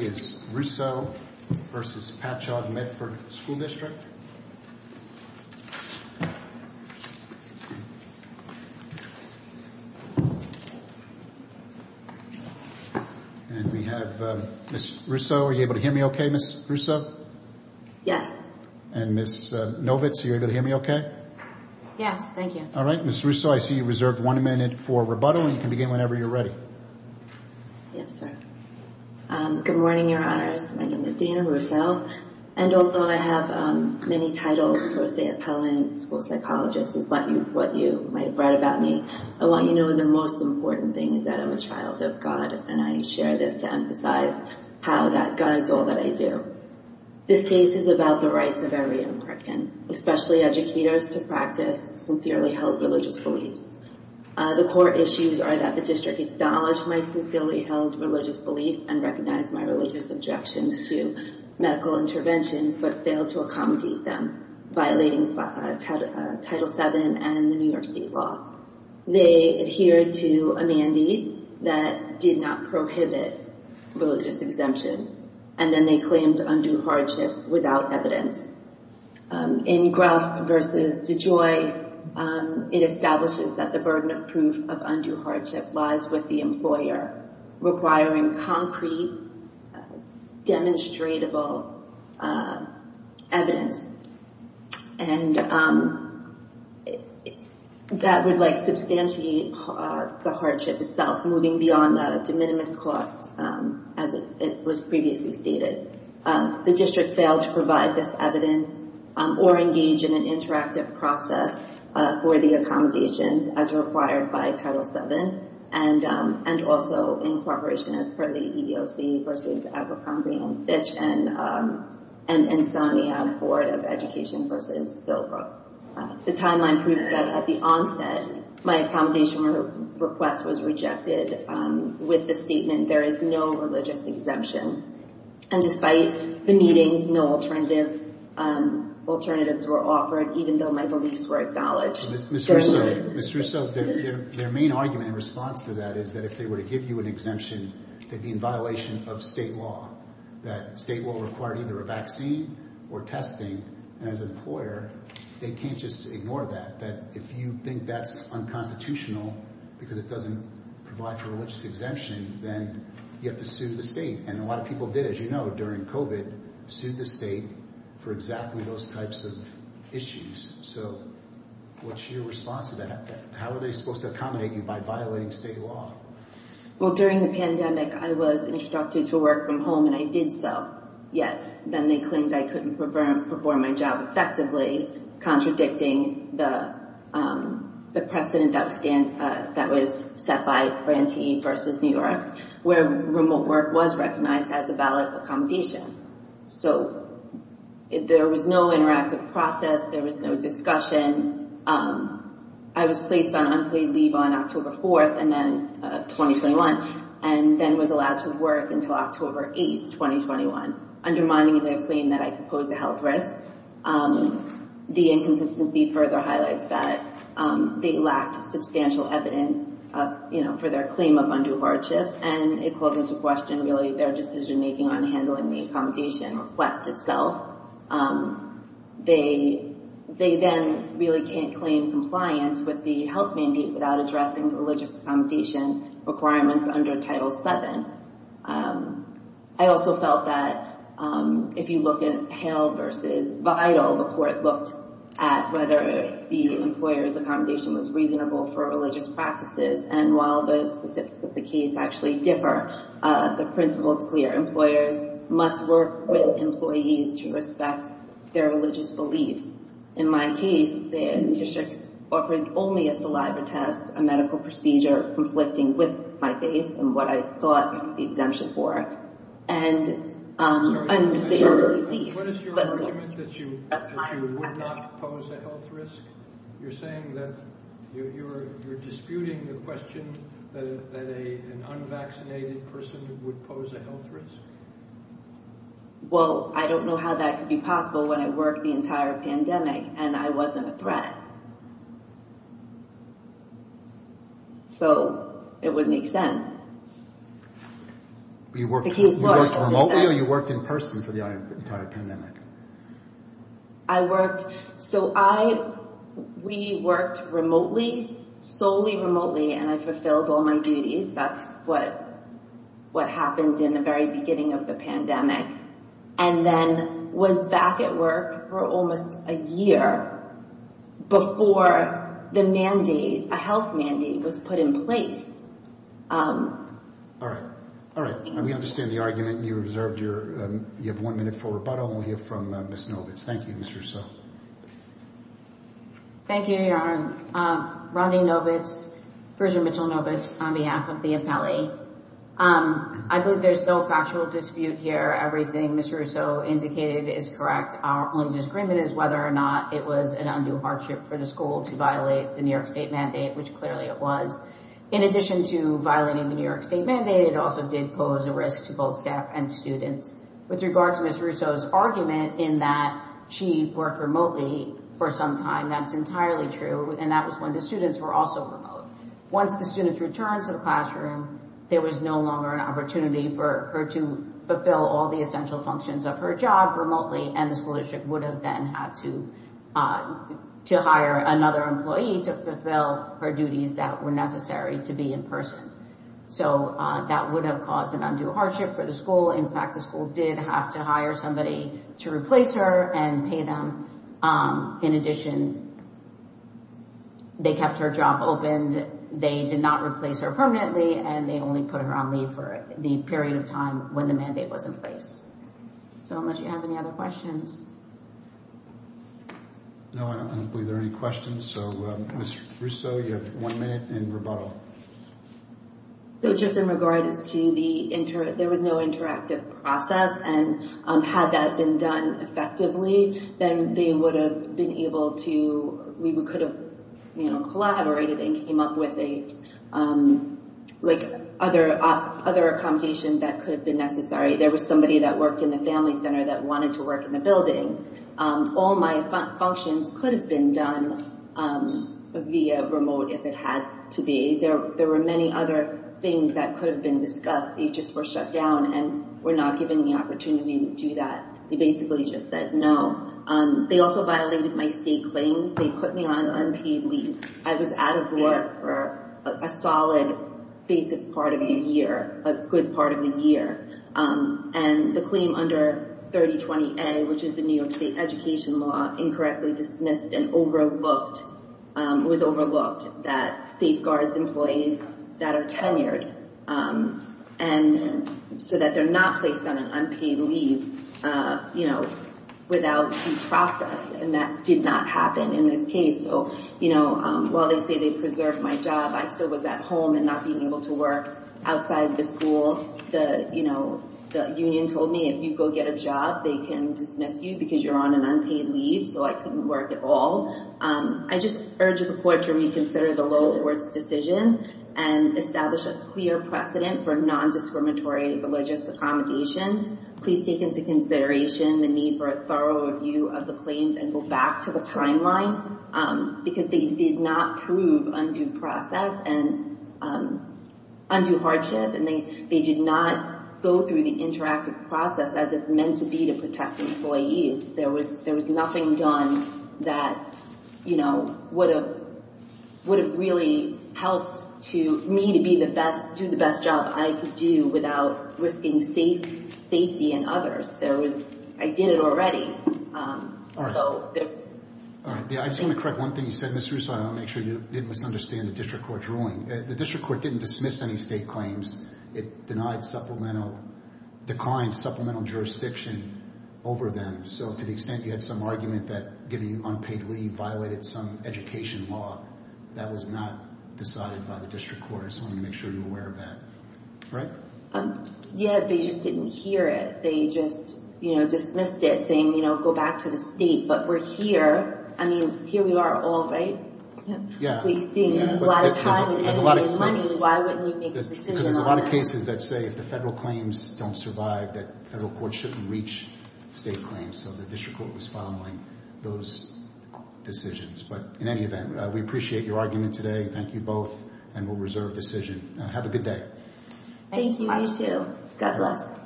and we have Ms. Russo. Are you able to hear me okay, Ms. Russo? Yes. And Ms. Novitz, are you able to hear me okay? Yes, thank you. All right. Ms. Russo, I see you reserved one minute for rebuttal, and you can begin whenever you're ready. Yes, sir. Good morning, Your Honors. My name is Dana Russo, and although I have many titles, post-appellant, school psychologist, is what you might have read about me, I want you to know the most important thing is that I'm a child of God, and I share this to emphasize how God is all that I do. This case is about the rights of every American, especially educators to practice sincerely held religious beliefs. The core issues are that the district acknowledged my sincerely held religious belief and recognized my religious objections to medical interventions, but failed to accommodate them, violating Title VII and the New York State law. They adhered to a mandate that did not prohibit religious exemptions, and then they claimed undue hardship without evidence. In Gruff v. DeJoy, it establishes that the burden of proof of undue hardship lies with the employer, requiring concrete, demonstratable evidence, and that would substantiate the hardship itself, moving beyond the de minimis cost, as it was previously stated. The district failed to provide this evidence or engage in an interactive process for the accommodation as required by Title VII, and also in cooperation as per the EEOC v. Abercrombie & Fitch and Insomnia Board of Education v. Bilbrook. The timeline proves that at the onset, my accommodation request was rejected with the statement, there is no religious exemption, and despite the meetings, no alternatives were offered, even though my beliefs were acknowledged. Ms. Russo, their main argument in response to that is that if they were to give you an exemption, they'd be in violation of state law, that state law required either a vaccine or testing, and as an employer, they can't just ignore that, that if you think that's unconstitutional because it doesn't provide for religious exemption, then you have to sue the state, and a lot of people did, as you know, during COVID, sued the state for exactly those types of issues, so what's your response to that? How are they supposed to accommodate you by violating state law? Well, during the pandemic, I was instructed to work from home, and I did so, yet then they claimed I couldn't perform my job effectively, contradicting the precedent that was set by Grantee v. New York, where remote work was recognized as a valid accommodation, so there was no interactive process, there was no discussion. I was placed on unpaid leave on October 4th, 2021, and then was allowed to work until October 8th, 2021, undermining their claim that I could pose a health risk. The inconsistency further highlights that they lacked substantial evidence for their claim of undue hardship, and it calls into question, really, their decision-making on handling the accommodation request itself. They then really can't claim compliance with the health mandate without addressing the religious accommodation requirements under Title VII. I also felt that if you look at Hale v. Vidal, the court looked at whether the employer's accommodation was reasonable for religious practices, and while the specifics of the case actually differ, the principle is clear. Employers must work with employees to respect their religious beliefs. In my case, the district offered only a saliva test, a medical procedure conflicting with my faith and what I sought the exemption for. And— What is your argument that you would not pose a health risk? You're saying that you're disputing the question that an unvaccinated person would pose a health risk? Well, I don't know how that could be possible when I worked the entire pandemic and I wasn't a threat. So, it wouldn't make sense. You worked remotely or you worked in person for the entire pandemic? I worked—so I—we worked remotely, solely remotely, and I fulfilled all my duties. That's what happened in the very beginning of the pandemic. And then was back at work for almost a year before the mandate, a health mandate, was put in place. All right. All right. We understand the argument. You reserved your—you have one minute for rebuttal. We'll hear from Ms. Novitz. Thank you, Mr. So. Thank you, Your Honor. Rondi Novitz, Frisian Mitchell Novitz, on behalf of the appellee. I believe there's no factual dispute here. Everything Ms. Russo indicated is correct. Our only disagreement is whether or not it was an undue hardship for the school to violate the New York State mandate, which clearly it was. In addition to violating the New York State mandate, it also did pose a risk to both staff and students. With regard to Ms. Russo's argument in that she worked remotely for some time, that's entirely true, and that was when the students were also remote. Once the students returned to the classroom, there was no longer an opportunity for her to fulfill all the essential functions of her job remotely, and the school district would have then had to hire another employee to fulfill her duties that were necessary to be in person. So that would have caused an undue hardship for the school. In fact, the school did have to hire somebody to replace her and pay them. In addition, they kept her job open. They did not replace her permanently, and they only put her on leave for the period of time when the mandate was in place. So, unless you have any other questions. No, I don't believe there are any questions. So, Ms. Russo, you have one minute in rebuttal. So, just in regards to the, there was no interactive process, and had that been done effectively, then they would have been able to, we could have collaborated and came up with a, like, other accommodation that could have been necessary. There was somebody that worked in the family center that wanted to work in the building. All my functions could have been done via remote if it had to be. There were many other things that could have been discussed. They just were shut down and were not given the opportunity to do that. They basically just said no. They also violated my state claims. They put me on unpaid leave. I was out of work for a solid basic part of the year, a good part of the year. And the claim under 3020A, which is the New York State Education Law, incorrectly dismissed and overlooked, was overlooked, that safeguards employees that are tenured so that they're not placed on an unpaid leave without due process. And that did not happen in this case. So, you know, while they say they preserved my job, I still was at home and not being able to work outside the school. The union told me if you go get a job, they can dismiss you because you're on an unpaid leave. So I couldn't work at all. I just urge the court to reconsider the lower court's decision and establish a clear precedent for nondiscriminatory religious accommodation. Please take into consideration the need for a thorough review of the claims and go back to the timeline, because they did not prove undue process and undue hardship. And they did not go through the interactive process as it's meant to be to protect employees. There was nothing done that, you know, would have really helped me to do the best job I could do without risking safety and others. I did it already. All right. I just want to correct one thing you said, Ms. Russo. I want to make sure you didn't misunderstand the district court's ruling. The district court didn't dismiss any state claims. It denied supplemental, declined supplemental jurisdiction over them. So to the extent you had some argument that giving you unpaid leave violated some education law, that was not decided by the district court. So I want to make sure you're aware of that. All right? Yeah, they just didn't hear it. They just, you know, dismissed it, saying, you know, go back to the state. But we're here. I mean, here we are all, right? Yeah. We've seen a lot of time and money. Why wouldn't you make a decision on that? Because there's a lot of cases that say if the federal claims don't survive, that federal courts shouldn't reach state claims. So the district court was following those decisions. But in any event, we appreciate your argument today. Thank you both. And we'll reserve decision. Have a good day. Thank you. You too. God bless.